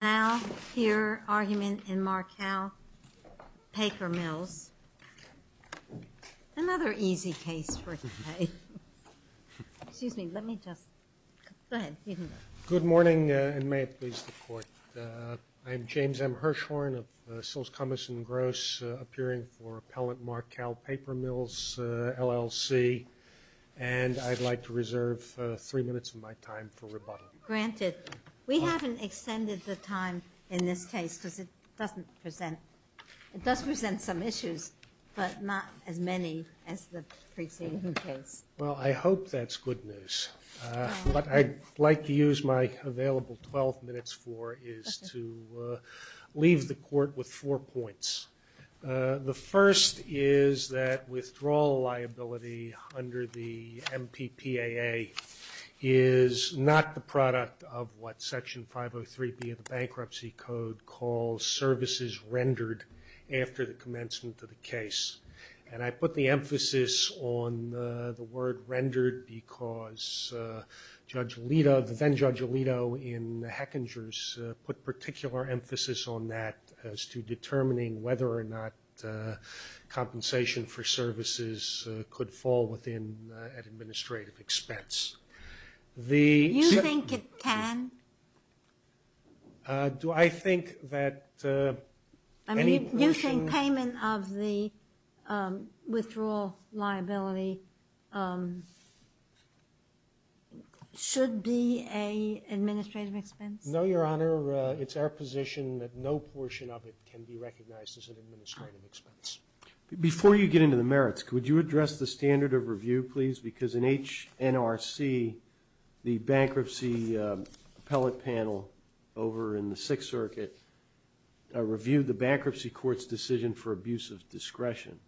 Now, here argument in Marcal Paper Mills, another easy case for today. Excuse me, let me just, go ahead. Good morning, and may it please the Court. I'm James M. Hirshhorn of Sills, Cummins & Gross, appearing for Appellant Marcal Paper Mills, LLC, and I'd like to reserve three minutes of my time for rebuttal. Granted, we haven't extended the time in this case because it doesn't present, it does present some issues, but not as many as the preceding case. Well, I hope that's good news. What I'd like to use my available 12 minutes for is to leave the Court with four points. The first is that withdrawal liability under the MPPAA is not the product of what Section 503B of the Bankruptcy Code calls services rendered after the commencement of the case. And I put the emphasis on the word rendered because Judge Alito, the then-Judge Alito in Hechinger's, put particular emphasis on that as to determining whether or not compensation for services could fall within an administrative expense. Do you think it can? Do I think that any motion? I mean, you think payment of the withdrawal liability should be an administrative expense? No, Your Honor. It's our position that no portion of it can be recognized as an administrative expense. Before you get into the merits, could you address the standard of review, please? Because in HNRC, the bankruptcy appellate panel over in the Sixth Circuit reviewed the bankruptcy court's decision for abuse of discretion.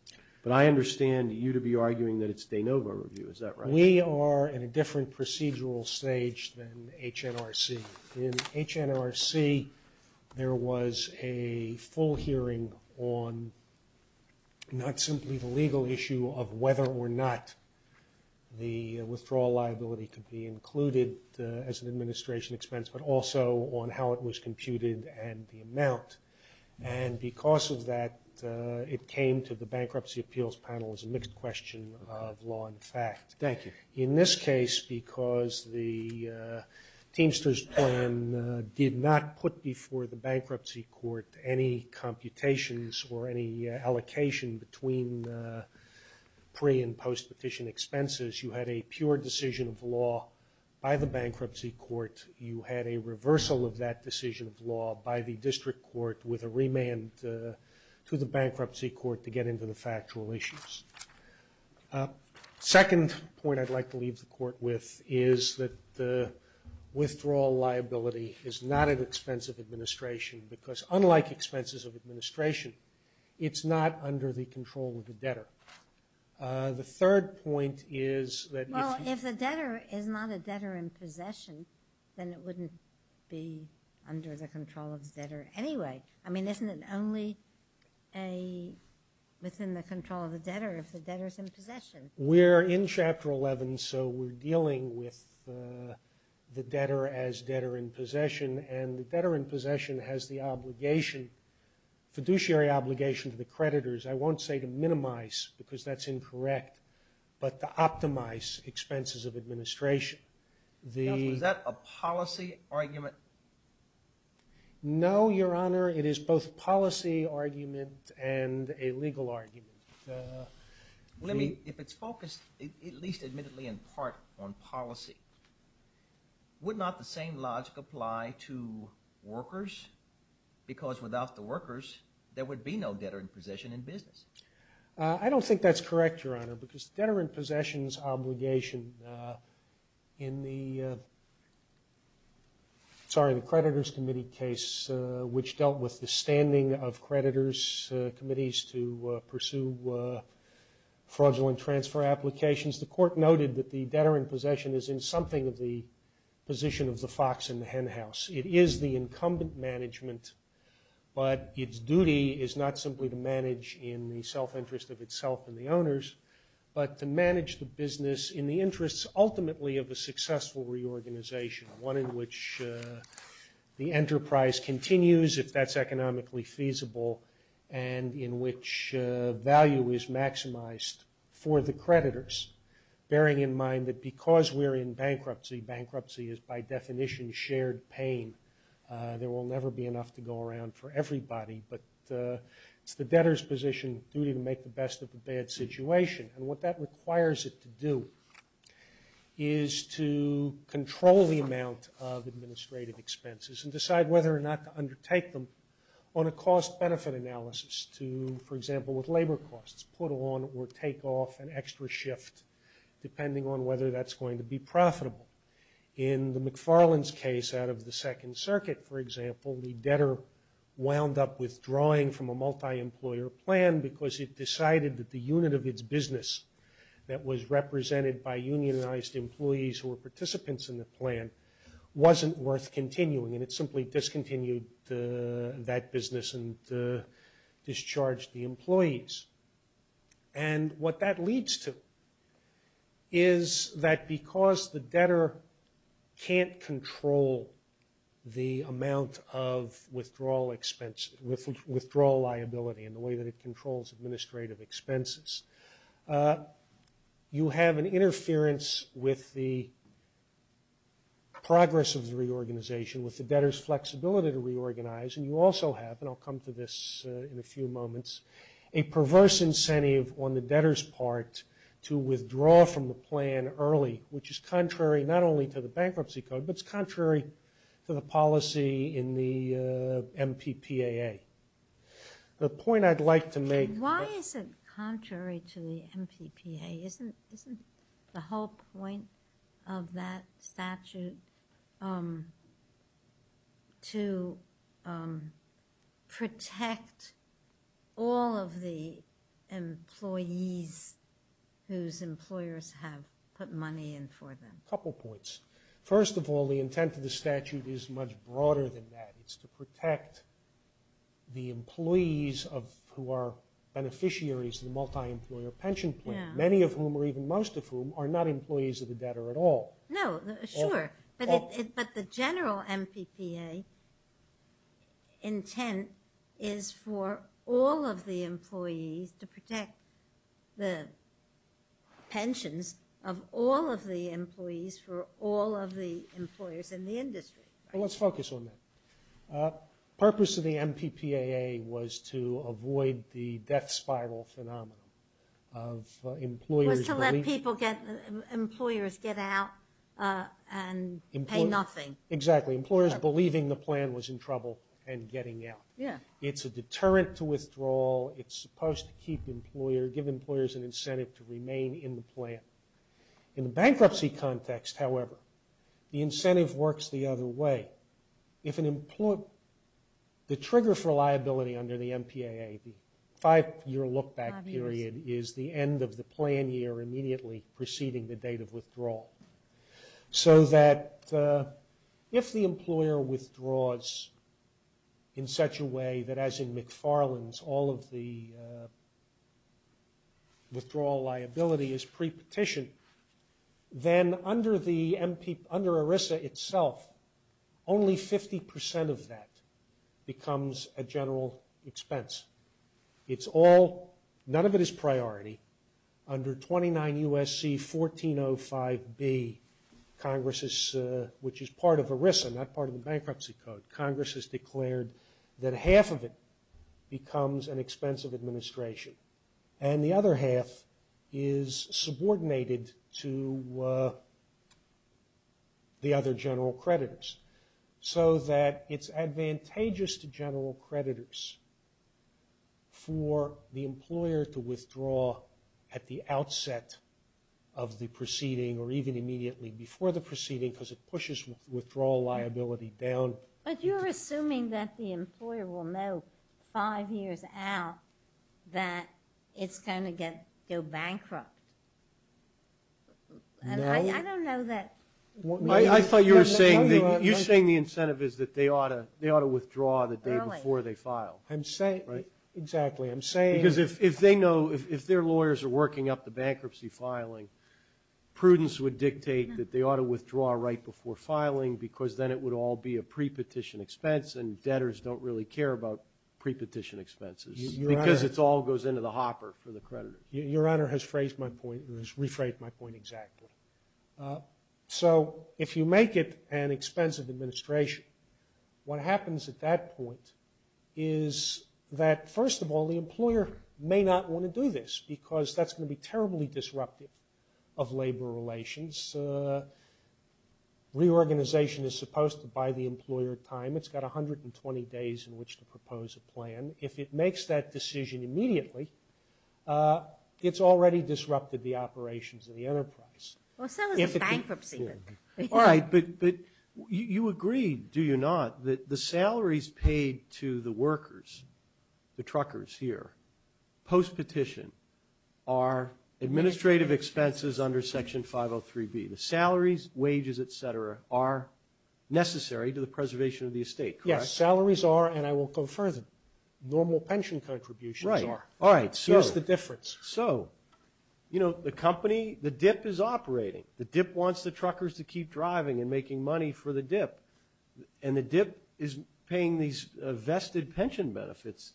But I understand you to be arguing that it's de novo review. Is that right? We are in a different procedural stage than HNRC. In HNRC, there was a full hearing on not simply the legal issue of whether or not the withdrawal liability could be included as an administration expense, but also on how it was computed and the amount. And because of that, it came to the bankruptcy appeals panel as a mixed question of law and fact. Thank you. In this case, because the Teamster's plan did not put before the bankruptcy court any computations or any allocation between pre- and post-petition expenses, you had a pure decision of law by the bankruptcy court. You had a reversal of that decision of law by the district court with a remand to the bankruptcy court to get into the factual issues. Second point I'd like to leave the court with is that the withdrawal liability is not an expense of administration because unlike expenses of administration, it's not under the control of the debtor. The third point is that if you... Well, if the debtor is not a debtor in possession, then it wouldn't be under the control of the debtor anyway. I mean, isn't it only within the control of the debtor if the debtor's in possession? We're in Chapter 11, so we're dealing with the debtor as debtor in possession, and the debtor in possession has the obligation, fiduciary obligation to the creditors. I won't say to minimize because that's incorrect, but to optimize expenses of administration. Counsel, is that a policy argument? No, Your Honor, it is both a policy argument and a legal argument. Let me, if it's focused at least admittedly in part on policy, would not the same logic apply to workers? Because without the workers, there would be no debtor in possession in business. I don't think that's correct, Your Honor, because debtor in possession's obligation in the creditors' committee case, which dealt with the standing of creditors' committees to pursue fraudulent transfer applications, the court noted that the debtor in possession is in something of the position of the fox in the henhouse. It is the incumbent management, but its duty is not simply to manage in the self-interest of itself and the owners, but to manage the business in the interests ultimately of a successful reorganization, one in which the enterprise continues if that's economically feasible, and in which value is maximized for the creditors, bearing in mind that because we're in bankruptcy, bankruptcy is by definition shared pain. There will never be enough to go around for everybody, but it's the debtor's position, duty to make the best of the bad situation, and what that requires it to do is to control the amount of administrative expenses and decide whether or not to undertake them on a cost-benefit analysis to, for example, with labor costs, put on or take off an extra shift depending on whether that's going to be profitable. In the McFarland's case out of the Second Circuit, for example, the debtor wound up withdrawing from a multi-employer plan because it decided that the unit of its business that was represented by unionized employees who were participants in the plan wasn't worth continuing, and it simply discontinued that business and discharged the employees. And what that leads to is that because the debtor can't control the amount of withdrawal liability and the way that it controls administrative expenses, you have an interference with the progress of the reorganization, with the debtor's flexibility to reorganize, and you also have, and I'll come to this in a few moments, a perverse incentive on the debtor's part to withdraw from the plan early, which is contrary not only to the Bankruptcy Code, but it's contrary to the policy in the MPPAA. The point I'd like to make... Why is it contrary to the MPPAA? Isn't the whole point of that statute to protect all of the employees whose employers have put money in for them? A couple points. First of all, the intent of the statute is much broader than that. It's to protect the employees who are beneficiaries of the multi-employer pension plan, many of whom, or even most of whom, are not employees of the debtor at all. No, sure, but the general MPPAA intent is for all of the employees to protect the pensions of all of the employees for all of the employers in the industry. Let's focus on that. The purpose of the MPPAA was to avoid the death spiral phenomenon of employers... It was to let employers get out and pay nothing. Exactly. Employers believing the plan was in trouble and getting out. It's a deterrent to withdrawal. It's supposed to give employers an incentive to remain in the plan. In the bankruptcy context, however, the incentive works the other way. The trigger for liability under the MPPAA, the five-year look-back period, is the end of the plan year immediately preceding the date of withdrawal. So that if the employer withdraws in such a way that, as in McFarland's, all of the withdrawal liability is pre-petitioned, then under ERISA itself, only 50% of that becomes a general expense. None of it is priority. Under 29 U.S.C. 1405B, which is part of ERISA, not part of the Bankruptcy Code, Congress has declared that half of it becomes an expense of administration and the other half is subordinated to the other general creditors. So that it's advantageous to general creditors for the employer to withdraw at the outset of the proceeding or even immediately before the proceeding because it pushes withdrawal liability down. But you're assuming that the employer will know five years out that it's going to go bankrupt. No. I thought you were saying the incentive is that they ought to withdraw the day before they file. Exactly. Because if their lawyers are working up the bankruptcy filing, prudence would dictate that they ought to withdraw right before filing because then it would all be a pre-petition expense and debtors don't really care about pre-petition expenses because it all goes into the hopper for the creditor. Your Honor has rephrased my point exactly. So if you make it an expense of administration, what happens at that point is that, first of all, the employer may not want to do this because that's going to be terribly disruptive of labor relations. Reorganization is supposed to buy the employer time. It's got 120 days in which to propose a plan. If it makes that decision immediately, it's already disrupted the operations of the enterprise. Well, so is the bankruptcy. All right, but you agreed, do you not, that the salaries paid to the workers, the truckers here, post-petition are administrative expenses under Section 503B. The salaries, wages, et cetera, are necessary to the preservation of the estate, correct? Yes, salaries are and I will go further. Normal pension contributions are. All right, so. Here's the difference. So, you know, the company, the DIP is operating. The DIP wants the truckers to keep driving and making money for the DIP and the DIP is paying these vested pension benefits.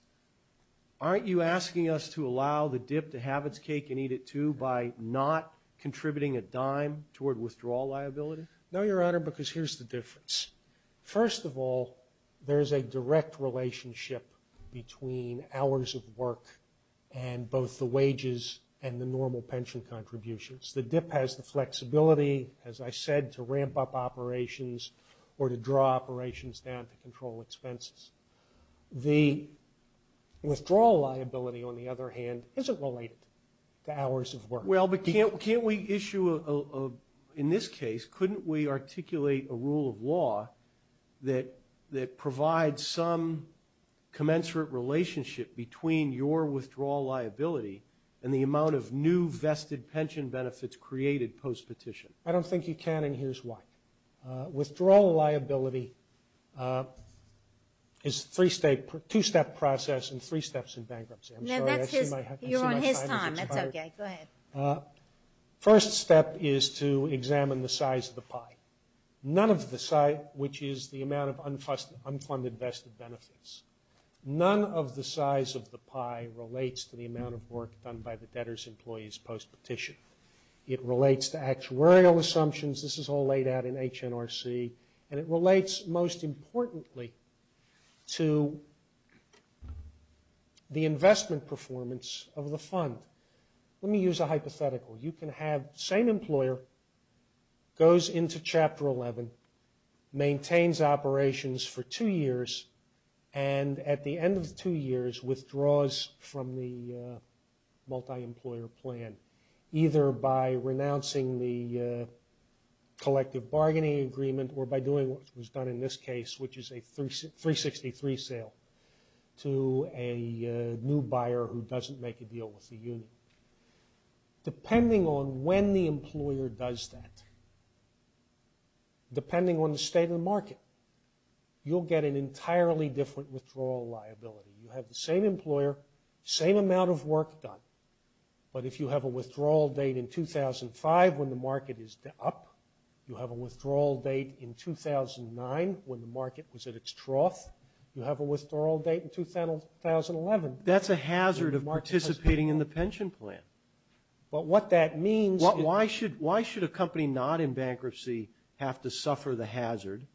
Aren't you asking us to allow the DIP to have its cake and eat it too by not contributing a dime toward withdrawal liability? No, Your Honor, because here's the difference. First of all, there's a direct relationship between hours of work and both the wages and the normal pension contributions. The DIP has the flexibility, as I said, to ramp up operations or to draw operations down to control expenses. The withdrawal liability, on the other hand, isn't related to hours of work. Well, but can't we issue a, in this case, couldn't we articulate a rule of law that provides some commensurate relationship between your withdrawal liability and the amount of new vested pension benefits created post-petition? I don't think you can and here's why. Withdrawal liability is a two-step process and three steps in bankruptcy. I'm sorry. You're on his time. That's okay. Go ahead. First step is to examine the size of the pie, which is the amount of unfunded vested benefits. None of the size of the pie relates to the amount of work done by the debtor's employees post-petition. It relates to actuarial assumptions. This is all laid out in HNRC and it relates most importantly to the investment performance of the fund. Let me use a hypothetical. You can have the same employer goes into Chapter 11, maintains operations for two years, and at the end of the two years withdraws from the multi-employer plan, either by renouncing the collective bargaining agreement or by doing what was done in this case, which is a 363 sale to a new buyer who doesn't make a deal with the union. Depending on when the employer does that, depending on the state of the market, you'll get an entirely different withdrawal liability. You have the same employer, same amount of work done, but if you have a withdrawal date in 2005 when the market is up, you have a withdrawal date in 2009 when the market was at its trough, you have a withdrawal date in 2011. That's a hazard of participating in the pension plan. But what that means is why should a company not in bankruptcy have to suffer the hazard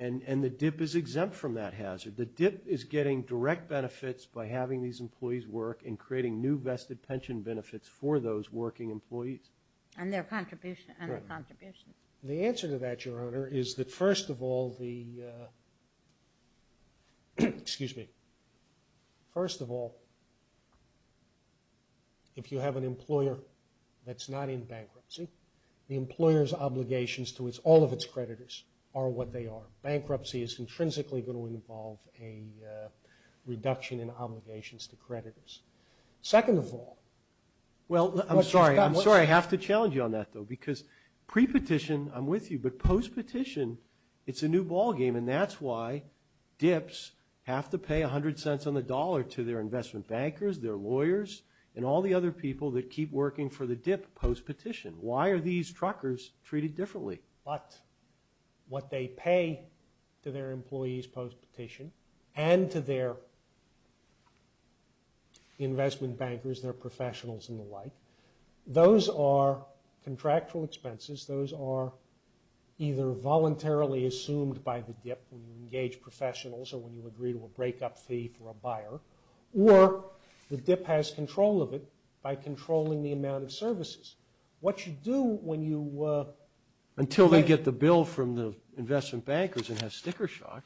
and the dip is exempt from that hazard? The dip is getting direct benefits by having these employees work and creating new vested pension benefits for those working employees. And their contributions. The answer to that, Your Honor, is that first of all the – excuse me. First of all, if you have an employer that's not in bankruptcy, the employer's obligations to all of its creditors are what they are. Bankruptcy is intrinsically going to involve a reduction in obligations to creditors. Second of all. Well, I'm sorry. I'm sorry I have to challenge you on that, though, because pre-petition, I'm with you, but post-petition, it's a new ball game, and that's why dips have to pay 100 cents on the dollar to their investment bankers, their lawyers, and all the other people that keep working for the dip post-petition. Why are these truckers treated differently? But what they pay to their employees post-petition and to their investment bankers, their professionals, and the like, those are contractual expenses. Those are either voluntarily assumed by the dip when you engage professionals or when you agree to a breakup fee for a buyer, or the dip has control of it by controlling the amount of services. What you do when you. Until they get the bill from the investment bankers and have sticker shock.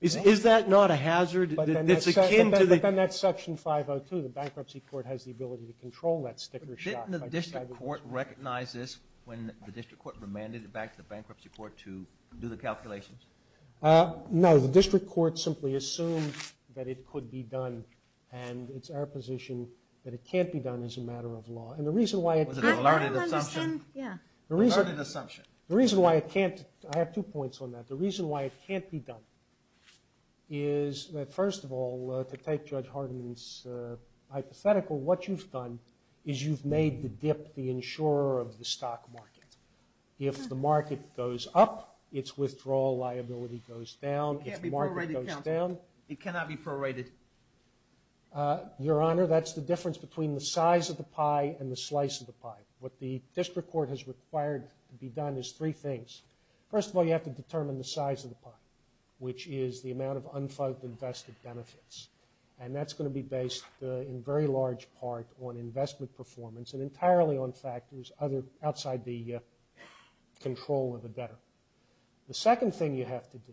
Is that not a hazard? But then that's section 502. The bankruptcy court has the ability to control that sticker shock. Didn't the district court recognize this when the district court remanded it back to the bankruptcy court to do the calculations? No. The district court simply assumed that it could be done, and it's our position that it can't be done as a matter of law. Was it a learned assumption? Yeah. A learned assumption. The reason why it can't. I have two points on that. The reason why it can't be done is that, first of all, to take Judge Hardeman's hypothetical, what you've done is you've made the dip the insurer of the stock market. If the market goes up, its withdrawal liability goes down. It can't be prorated, counsel. It cannot be prorated. Your Honor, that's the difference between the size of the pie and the slice of the pie. What the district court has required to be done is three things. First of all, you have to determine the size of the pie, which is the amount of unfunded invested benefits, and that's going to be based in very large part on investment performance and entirely on factors outside the control of the debtor. The second thing you have to do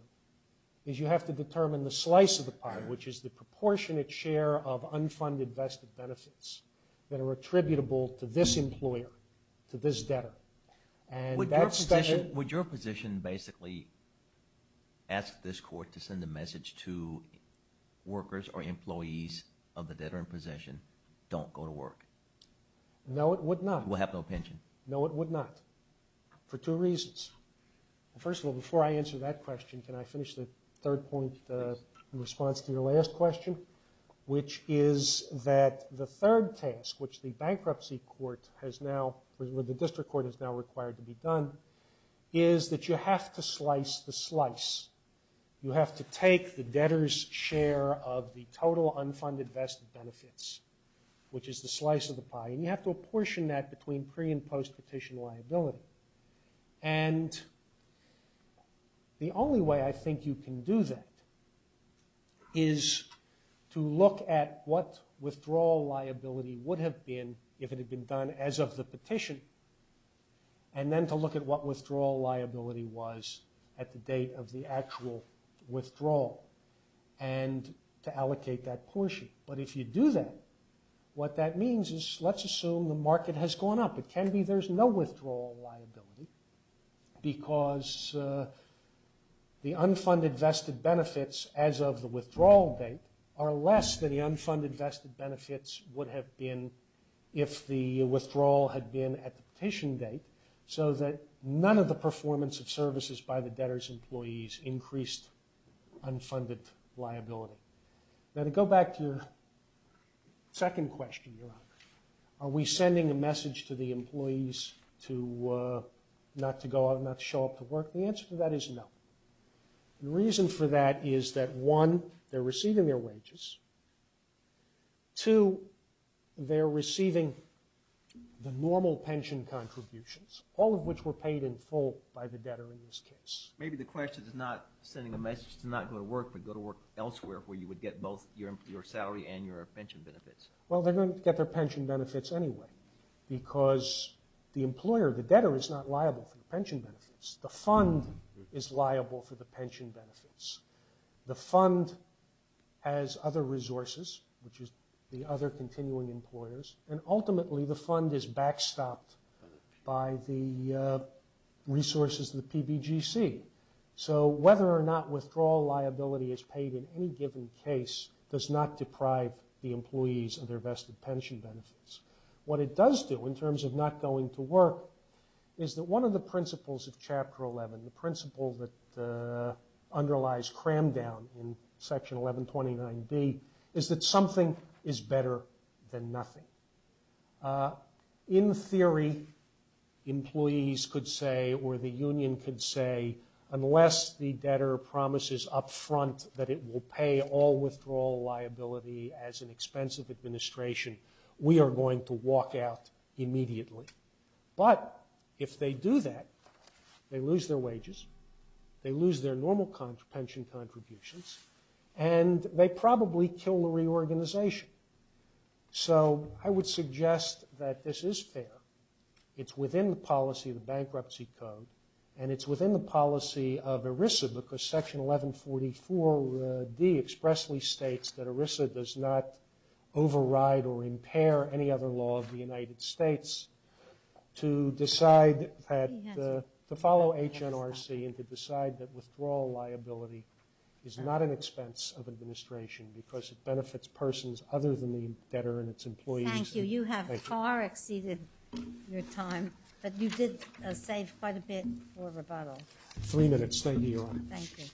is you have to determine the slice of the pie, which is the proportionate share of unfunded vested benefits that are attributable to this employer, to this debtor. Would your position basically ask this court to send a message to workers or employees of the debtor in possession, don't go to work? No, it would not. You will have no pension. No, it would not, for two reasons. First of all, before I answer that question, can I finish the third point in response to your last question, which is that the third task, which the bankruptcy court has now, or the district court has now required to be done, is that you have to slice the slice. You have to take the debtor's share of the total unfunded vested benefits, which is the slice of the pie, and you have to apportion that between pre- and post-petition liability. And the only way I think you can do that is to look at what withdrawal liability would have been if it had been done as of the petition, and then to look at what withdrawal liability was at the date of the actual withdrawal, and to allocate that portion. But if you do that, what that means is, let's assume the market has gone up. It can be there's no withdrawal liability because the unfunded vested benefits as of the withdrawal date are less than the unfunded vested benefits would have been if the withdrawal had been at the petition date, so that none of the performance of services by the debtor's employees increased unfunded liability. Now, to go back to your second question, Your Honor, are we sending a message to the employees not to go out, not to show up to work? The answer to that is no. The reason for that is that, one, they're receiving their wages. Two, they're receiving the normal pension contributions, all of which were paid in full by the debtor in this case. Maybe the question is not sending a message to not go to work, but go to work elsewhere where you would get both your salary and your pension benefits. Well, they're going to get their pension benefits anyway because the employer, the debtor, is not liable for the pension benefits. The fund is liable for the pension benefits. The fund has other resources, which is the other continuing employers, and ultimately the fund is backstopped by the resources of the PBGC. So whether or not withdrawal liability is paid in any given case does not deprive the employees of their vested pension benefits. What it does do, in terms of not going to work, is that one of the principles of Chapter 11, the principle that underlies cram-down in Section 1129B, is that something is better than nothing. In theory, employees could say, or the union could say, unless the debtor promises up front that it will pay all withdrawal liability as an expensive administration, we are going to walk out immediately. But if they do that, they lose their wages, they lose their normal pension contributions, and they probably kill the reorganization. So I would suggest that this is fair. It's within the policy of the Bankruptcy Code, and it's within the policy of ERISA, because Section 1144D expressly states that ERISA does not override or impair any other law of the United States. To follow HNRC and to decide that withdrawal liability is not an expense of administration because it benefits persons other than the debtor and its employees. Thank you. You have far exceeded your time, but you did save quite a bit for rebuttal. Three minutes. Thank you, Your Honor. Thank you.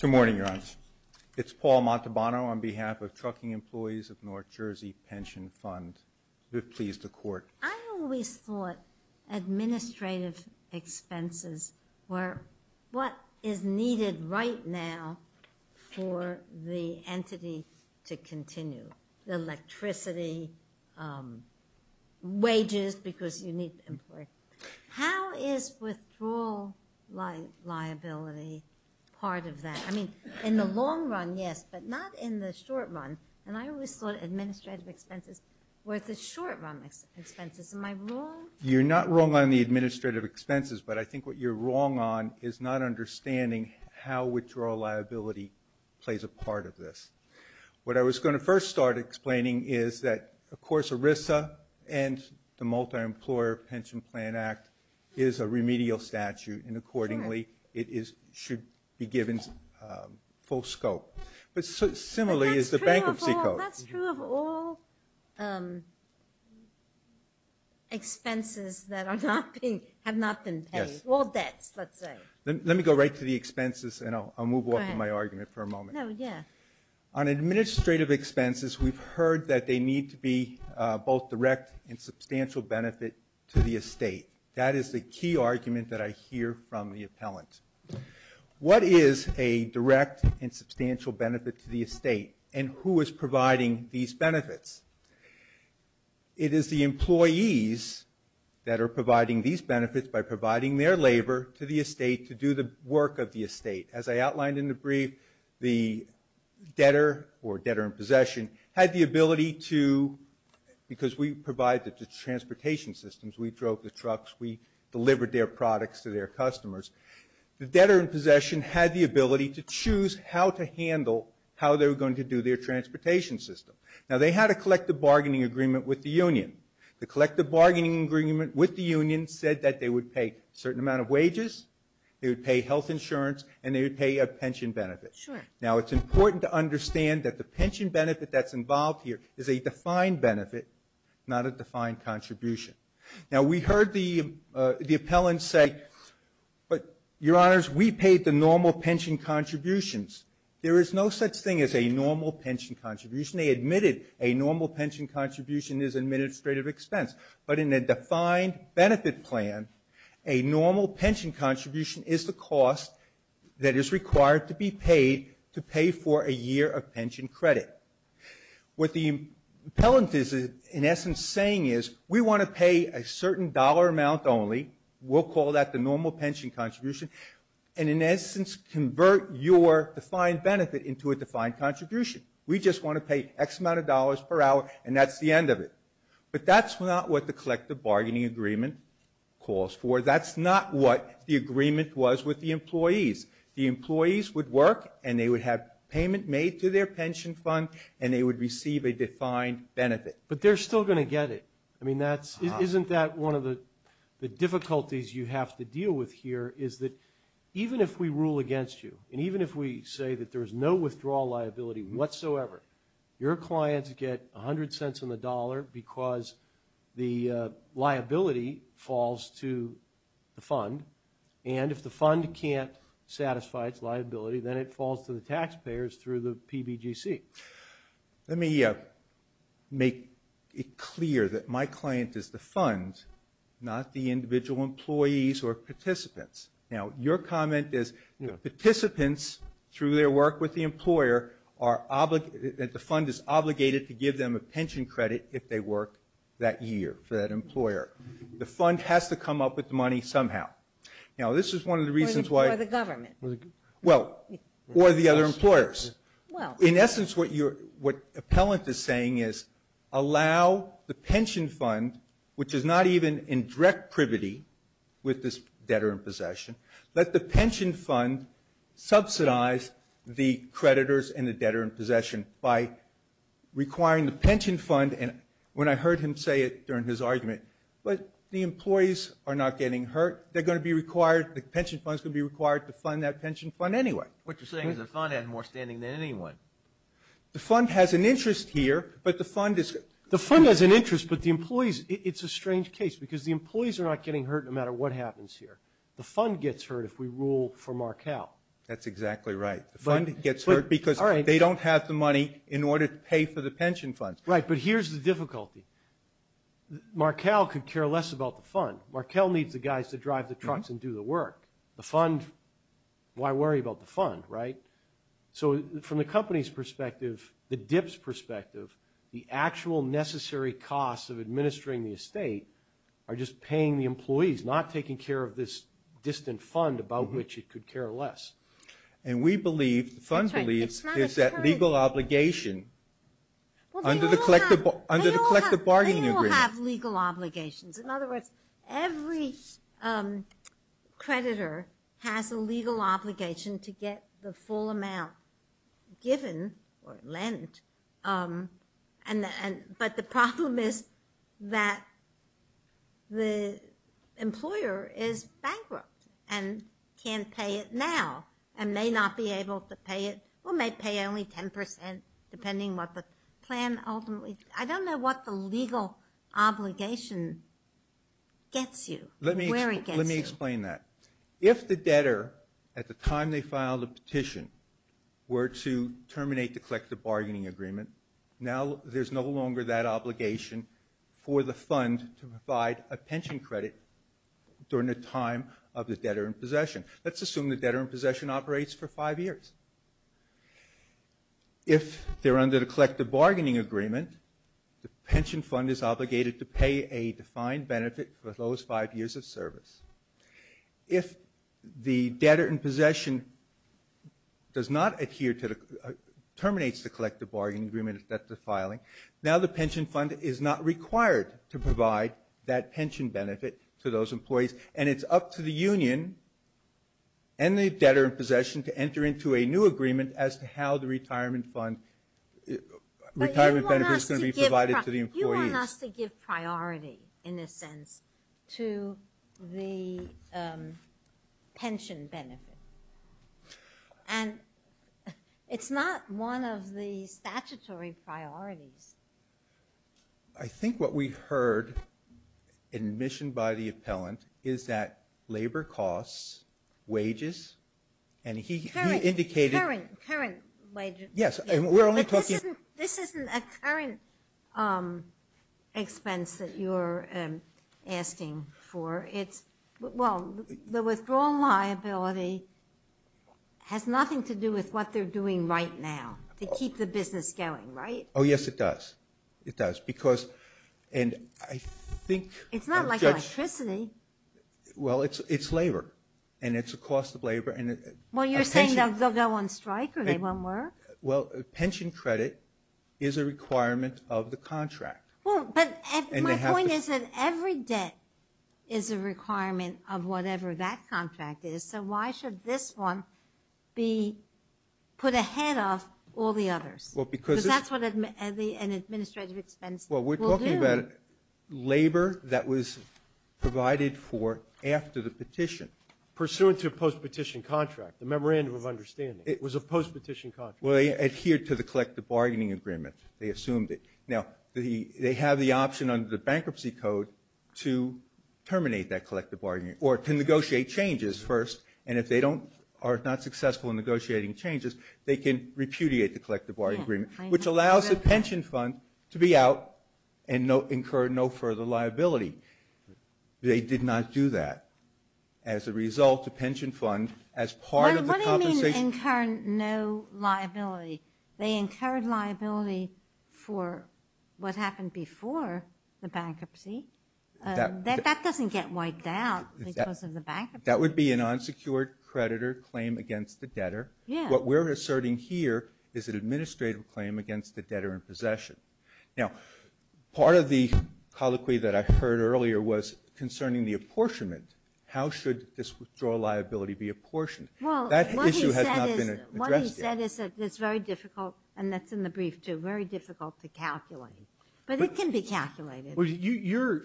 Good morning, Your Honor. It's Paul Montalbano on behalf of Trucking Employees of North Jersey Pension Fund. We're pleased to court. I always thought administrative expenses were what is needed right now for the entity to continue. The electricity, wages, because you need the employee. How is withdrawal liability part of that? I mean, in the long run, yes, but not in the short run. And I always thought administrative expenses were the short-run expenses. Am I wrong? You're not wrong on the administrative expenses, but I think what you're wrong on is not understanding how withdrawal liability plays a part of this. What I was going to first start explaining is that, of course, ERISA and the Multi-Employer Pension Plan Act is a remedial statute, and accordingly it should be given full scope. But similarly is the bankruptcy code. Well, that's true of all expenses that have not been paid, all debts, let's say. Let me go right to the expenses, and I'll move on from my argument for a moment. No, yeah. On administrative expenses, we've heard that they need to be both direct and substantial benefit to the estate. That is the key argument that I hear from the appellant. What is a direct and substantial benefit to the estate, and who is providing these benefits? It is the employees that are providing these benefits by providing their labor to the estate to do the work of the estate. As I outlined in the brief, the debtor or debtor in possession had the ability to, because we provide the transportation systems, we drove the trucks, we delivered their products to their customers. The debtor in possession had the ability to choose how to handle how they were going to do their transportation system. Now, they had a collective bargaining agreement with the union. The collective bargaining agreement with the union said that they would pay a certain amount of wages, they would pay health insurance, and they would pay a pension benefit. Now, it's important to understand that the pension benefit that's involved here is a defined benefit, not a defined contribution. Now, we heard the appellant say, but, Your Honors, we paid the normal pension contributions. There is no such thing as a normal pension contribution. They admitted a normal pension contribution is administrative expense. But in a defined benefit plan, a normal pension contribution is the cost that is required to be paid to pay for a year of pension credit. What the appellant is, in essence, saying is, we want to pay a certain dollar amount only. We'll call that the normal pension contribution. And in essence, convert your defined benefit into a defined contribution. We just want to pay X amount of dollars per hour, and that's the end of it. But that's not what the collective bargaining agreement calls for. That's not what the agreement was with the employees. The employees would work, and they would have payment made to their pension fund, and they would receive a defined benefit. But they're still going to get it. I mean, isn't that one of the difficulties you have to deal with here, is that even if we rule against you, and even if we say that there's no withdrawal liability whatsoever, your clients get 100 cents on the dollar because the liability falls to the fund, and if the fund can't satisfy its liability, then it falls to the taxpayers through the PBGC. Let me make it clear that my client is the fund, not the individual employees or participants. Now, your comment is participants, through their work with the employer, that the fund is obligated to give them a pension credit if they work that year for that employer. The fund has to come up with the money somehow. Now, this is one of the reasons why... Or the government. Well, or the other employers. In essence, what Appellant is saying is, allow the pension fund, which is not even in direct privity with this debtor in possession, let the pension fund subsidize the creditors and the debtor in possession by requiring the pension fund, and when I heard him say it during his argument, but the employees are not getting hurt. They're going to be required, the pension fund is going to be required to fund that pension fund anyway. What you're saying is the fund has more standing than anyone. The fund has an interest here, but the fund is... The fund has an interest, but the employees... It's a strange case, because the employees are not getting hurt no matter what happens here. The fund gets hurt if we rule for Markell. That's exactly right. The fund gets hurt because they don't have the money in order to pay for the pension funds. Right, but here's the difficulty. Markell could care less about the fund. Markell needs the guys to drive the trucks and do the work. The fund, why worry about the fund, right? So from the company's perspective, the DIP's perspective, the actual necessary costs of administering the estate are just paying the employees, not taking care of this distant fund about which it could care less. And we believe, the fund believes, is that legal obligation under the collective bargaining agreement... They all have legal obligations. In other words, every creditor has a legal obligation to get the full amount given or lent. But the problem is that the employer is bankrupt and can't pay it now and may not be able to pay it... Or may pay only 10%, depending what the plan ultimately... I don't know what the legal obligation gets you, where it gets you. Let me explain that. If the debtor, at the time they filed the petition, were to terminate the collective bargaining agreement, now there's no longer that obligation for the fund to provide a pension credit during the time of the debtor in possession. Let's assume the debtor in possession operates for five years. If they're under the collective bargaining agreement, the pension fund is obligated to pay a defined benefit for those five years of service. If the debtor in possession does not adhere to the... terminates the collective bargaining agreement at the filing, now the pension fund is not required to provide that pension benefit to those employees, and it's up to the union and the debtor in possession to enter into a new agreement as to how the retirement fund... retirement benefit is going to be provided to the employees. But you want us to give priority, in a sense, to the pension benefit. And it's not one of the statutory priorities. I think what we heard in admission by the appellant is that labor costs, wages, and he indicated... Current wages. Yes, and we're only talking... But this isn't a current expense that you're asking for. Well, the withdrawal liability has nothing to do with what they're doing right now to keep the business going, right? Oh, yes, it does. It does. And I think... It's not like electricity. Well, it's labor, and it's a cost of labor. Well, you're saying they'll go on strike or they won't work? Well, pension credit is a requirement of the contract. My point is that every debt is a requirement of whatever that contract is, so why should this one be put ahead of all the others? Because that's what an administrative expense will do. Well, we're talking about labor that was provided for after the petition. Pursuant to a post-petition contract, a memorandum of understanding. It was a post-petition contract. Well, they adhered to the collective bargaining agreement. They assumed it. Now, they have the option under the bankruptcy code to terminate that collective bargaining agreement or to negotiate changes first, and if they are not successful in negotiating changes, they can repudiate the collective bargaining agreement, which allows the pension fund to be out and incur no further liability. They did not do that. As a result, the pension fund, as part of the compensation... What do you mean, incur no liability? They incurred liability for what happened before the bankruptcy. That doesn't get wiped out because of the bankruptcy. That would be an unsecured creditor claim against the debtor. What we're asserting here is an administrative claim against the debtor in possession. Now, part of the colloquy that I heard earlier was concerning the apportionment. How should this withdrawal liability be apportioned? That issue has not been addressed yet. What he said is that it's very difficult, and that's in the brief too, very difficult to calculate. But it can be calculated.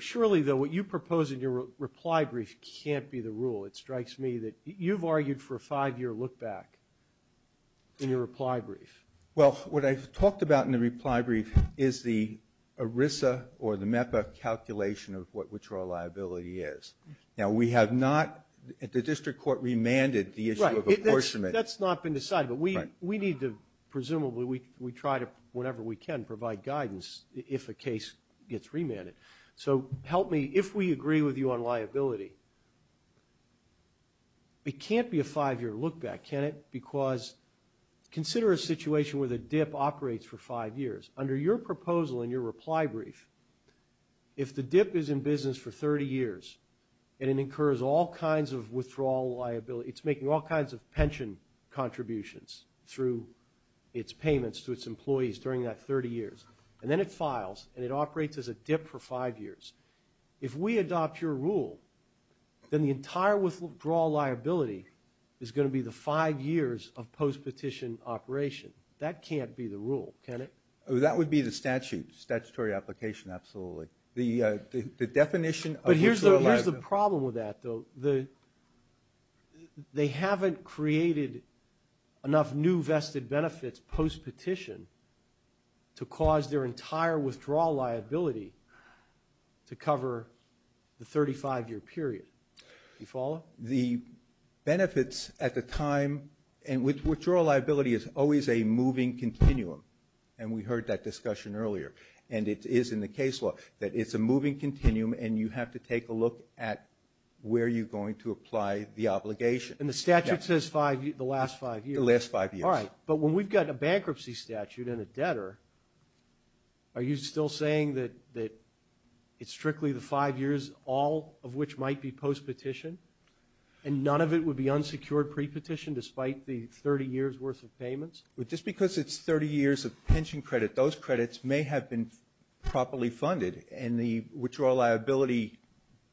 Shirley, though, what you propose in your reply brief can't be the rule. It strikes me that you've argued for a five-year look-back in your reply brief. Well, what I've talked about in the reply brief is the ERISA or the MEPA calculation of what withdrawal liability is. Now, we have not... The district court remanded the issue of apportionment. That's not been decided, but we need to... Presumably, we try to, whenever we can, provide guidance if a case gets remanded. So help me, if we agree with you on liability, it can't be a five-year look-back, can it? Because consider a situation where the DIP operates for five years. Under your proposal in your reply brief, if the DIP is in business for 30 years and it incurs all kinds of withdrawal liability, it's making all kinds of pension contributions through its payments to its employees during that 30 years, and then it files and it operates as a DIP for five years. If we adopt your rule, then the entire withdrawal liability is going to be the five years of post-petition operation. That can't be the rule, can it? That would be the statute, statutory application, absolutely. The definition of withdrawal liability... But here's the problem with that, though. They haven't created enough new vested benefits post-petition to cause their entire withdrawal liability. To cover the 35-year period. Do you follow? The benefits at the time... Withwithdrawal liability is always a moving continuum, and we heard that discussion earlier. And it is in the case law that it's a moving continuum and you have to take a look at where you're going to apply the obligation. And the statute says the last five years. The last five years. All right, but when we've got a bankruptcy statute and a debtor, are you still saying that it's strictly the five years, all of which might be post-petition, and none of it would be unsecured pre-petition despite the 30 years' worth of payments? Just because it's 30 years of pension credit, those credits may have been properly funded, and the withdrawal liability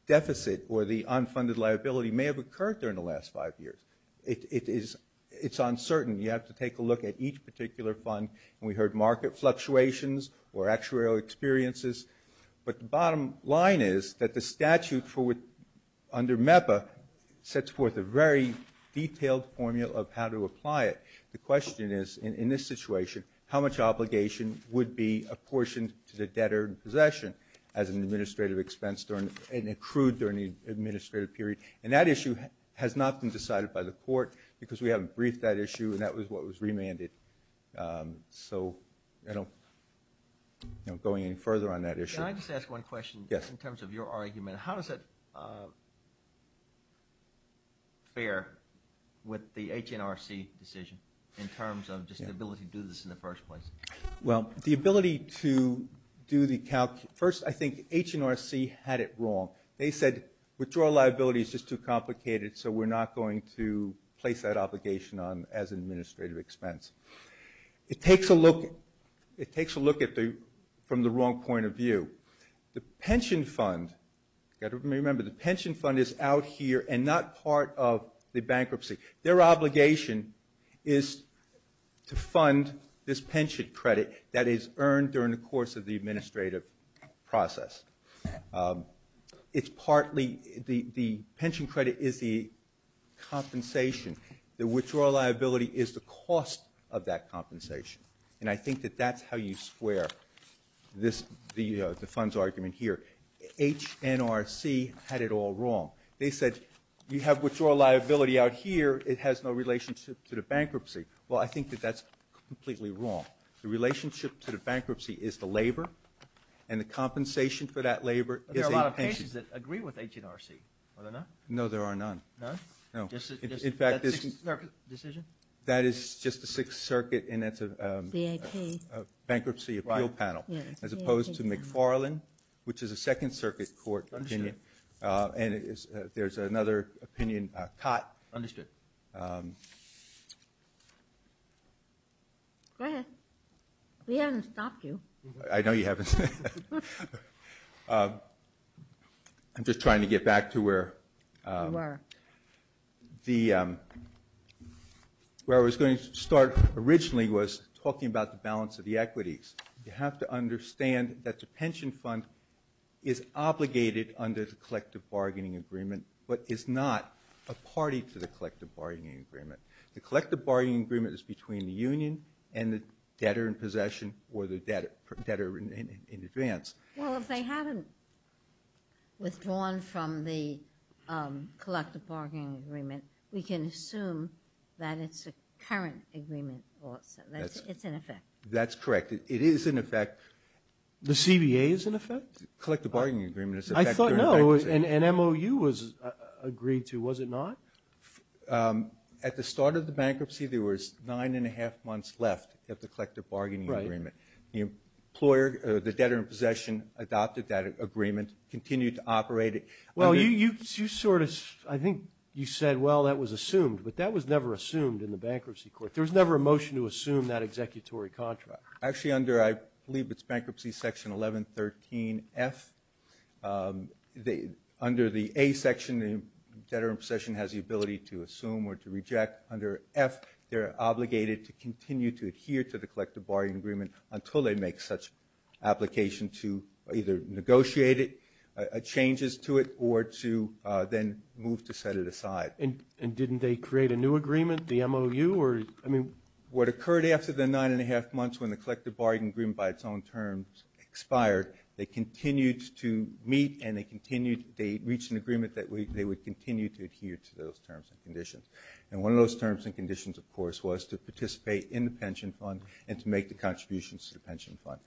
deficit or the unfunded liability may have occurred during the last five years. It's uncertain. You have to take a look at each particular fund. And we heard market fluctuations or actuarial experiences. But the bottom line is that the statute under MEPA sets forth a very detailed formula of how to apply it. The question is, in this situation, how much obligation would be apportioned to the debtor in possession as an administrative expense and accrued during the administrative period? And that issue has not been decided by the court because we haven't briefed that issue, and that was what was remanded. So I'm not going any further on that issue. Can I just ask one question in terms of your argument? Yes. How does that fare with the HNRC decision in terms of just the ability to do this in the first place? Well, the ability to do the calc... First, I think HNRC had it wrong. They said withdrawal liability is just too complicated, so we're not going to place that obligation on... as an administrative expense. It takes a look... It takes a look at the... from the wrong point of view. The pension fund... Remember, the pension fund is out here and not part of the bankruptcy. Their obligation is to fund this pension credit that is earned during the course of the administrative process. It's partly... The pension credit is the compensation. The withdrawal liability is the cost of that compensation. And I think that that's how you square this... the fund's argument here. HNRC had it all wrong. They said, you have withdrawal liability out here, it has no relationship to the bankruptcy. Well, I think that that's completely wrong. The relationship to the bankruptcy is the labour and the compensation for that labour is a pension. There are a lot of cases that agree with HNRC. Are there not? No, there are none. No. In fact, this... That's a Sixth Circuit decision? That is just the Sixth Circuit and that's a bankruptcy appeal panel as opposed to McFarland, which is a Second Circuit court opinion. And there's another opinion, Cott. Understood. Go ahead. We haven't stopped you. I know you haven't. I'm just trying to get back to where... You are. Where I was going to start originally was talking about the balance of the equities. You have to understand that the pension fund is obligated under the collective bargaining agreement but is not a party to the collective bargaining agreement. The collective bargaining agreement is between the union and the debtor in possession or the debtor in advance. Well, if they haven't withdrawn from the collective bargaining agreement, we can assume that it's a current agreement. It's in effect. That's correct. It is in effect. The CBA is in effect? Collective bargaining agreement is in effect. I thought, no, an MOU was agreed to. Was it not? At the start of the bankruptcy, there was nine and a half months left of the collective bargaining agreement. The debtor in possession adopted that agreement, continued to operate it. Well, I think you said, well, that was assumed, but that was never assumed in the bankruptcy court. There was never a motion to assume that executory contract. Actually, I believe it's bankruptcy section 1113F. Under the A section, the debtor in possession has the ability to assume or to reject. Under F, they're obligated to continue to adhere to the collective bargaining agreement until they make such application to either negotiate changes to it or to then move to set it aside. And didn't they create a new agreement, the MOU? What occurred after the nine and a half months when the collective bargaining agreement by its own terms expired, they continued to meet and they reached an agreement that they would continue to adhere to those terms and conditions. And one of those terms and conditions, of course, was to participate in the pension fund and to make the contributions to the pension fund.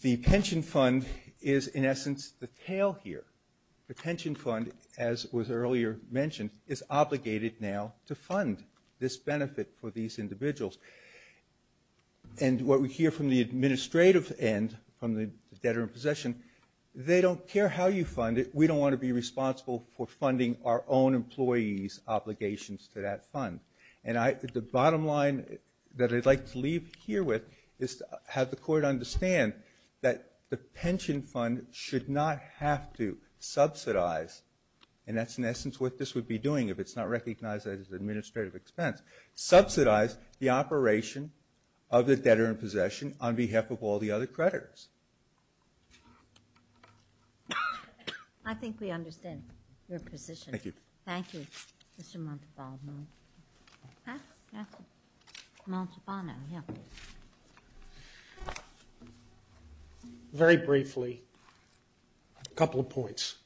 The pension fund is, in essence, the tail here. The pension fund, as was earlier mentioned, is obligated now to fund this benefit for these individuals. And what we hear from the administrative end, from the debtor in possession, they don't care how you fund it. We don't want to be responsible for funding our own employees' obligations to that fund. And the bottom line that I'd like to leave here with is to have the court understand that the pension fund should not have to subsidize, and that's, in essence, what this would be doing if it's not recognized as an administrative expense, subsidize the operation of the debtor in possession on behalf of all the other creditors. I think we understand your position. Thank you. Thank you, Mr. Montalbo. Very briefly, a couple of points.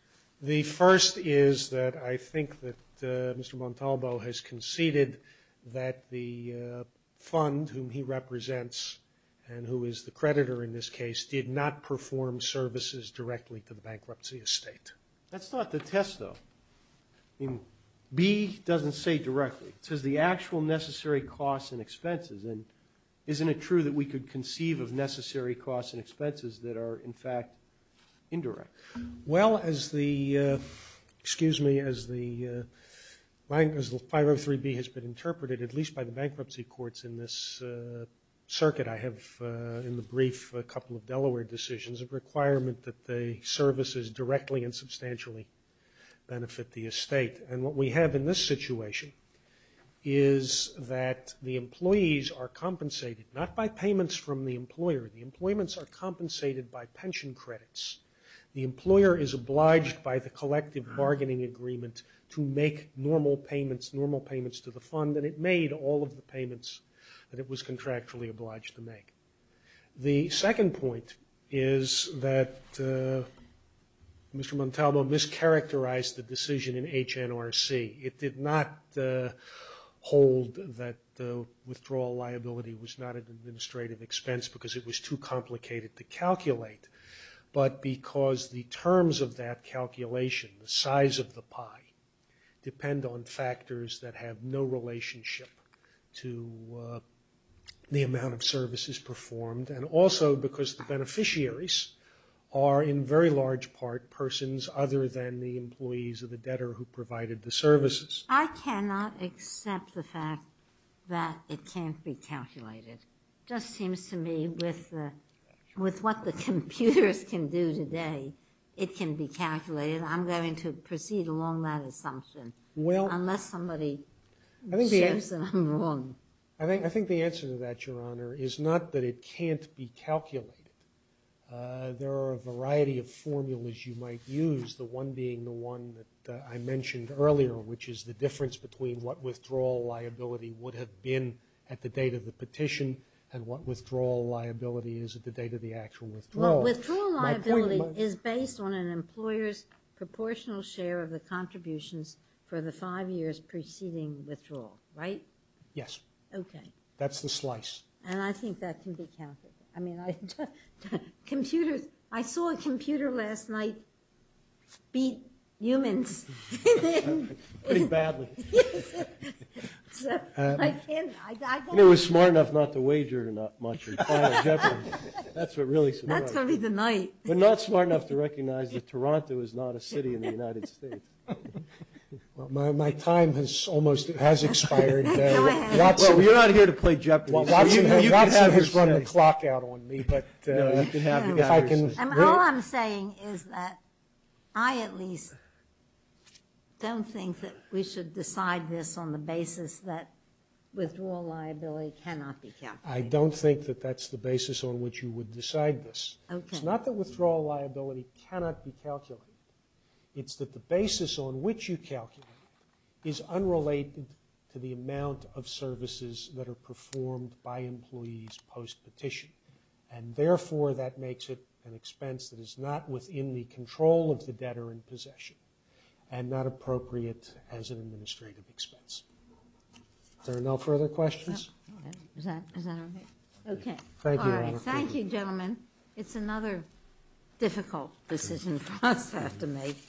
The first is that I think that Mr. Montalbo has conceded that the fund whom he represents and who is the creditor in this case did not perform services directly to the bankruptcy estate. That's not the test, though. I mean, B doesn't say directly. It says the actual necessary costs and expenses. And isn't it true that we could conceive of necessary costs and expenses that are, in fact, indirect? Well, as the 503B has been interpreted, at least by the bankruptcy courts in this circuit, I have in the brief a couple of Delaware decisions of requirement that the services directly and substantially benefit the estate. And what we have in this situation is that the employees are compensated not by payments from the employer. The employments are compensated by pension credits. The employer is obliged by the collective bargaining agreement to make normal payments, normal payments to the fund, and it made all of the payments that it was contractually obliged to make. The second point is that Mr. Montalbo mischaracterized the decision in HNRC. It did not hold that the withdrawal liability was not an administrative expense because it was too complicated to calculate, but because the terms of that calculation, the size of the pie, depend on factors that have no relationship to the amount of services performed, and also because the beneficiaries are in very large part persons other than the employees or the debtor who provided the services. I cannot accept the fact that it can't be calculated. It just seems to me with what the computers can do today, it can be calculated. I'm going to proceed along that assumption. Unless somebody shifts and I'm wrong. I think the answer to that, Your Honor, is not that it can't be calculated. There are a variety of formulas you might use, the one being the one that I mentioned earlier, which is the difference between what withdrawal liability would have been at the date of the petition and what withdrawal liability is at the date of the actual withdrawal. Withdrawal liability is based on an employer's for the five years preceding withdrawal, right? Yes. Okay. That's the slice. I think that can be calculated. I saw a computer last night beat humans. Pretty badly. It was smart enough not to wager much. That's what really surprised me. That's going to be the night. But not smart enough to recognize that Toronto is not a city in the United States. My time has almost expired. You're not here to play Japanese. Watson has run the clock out on me. All I'm saying is that I at least don't think that we should decide this on the basis that withdrawal liability cannot be calculated. I don't think that that's the basis on which you would decide this. It's not that withdrawal liability cannot be calculated. It's that the basis on which you calculate is unrelated to the amount of services that are performed by employees post-petition. And therefore, that makes it an expense that is not within the control of the debtor in possession and not appropriate as an administrative expense. Are there no further questions? No. Is that okay? Okay. All right. Thank you, gentlemen. It's another difficult decision for us to have to make.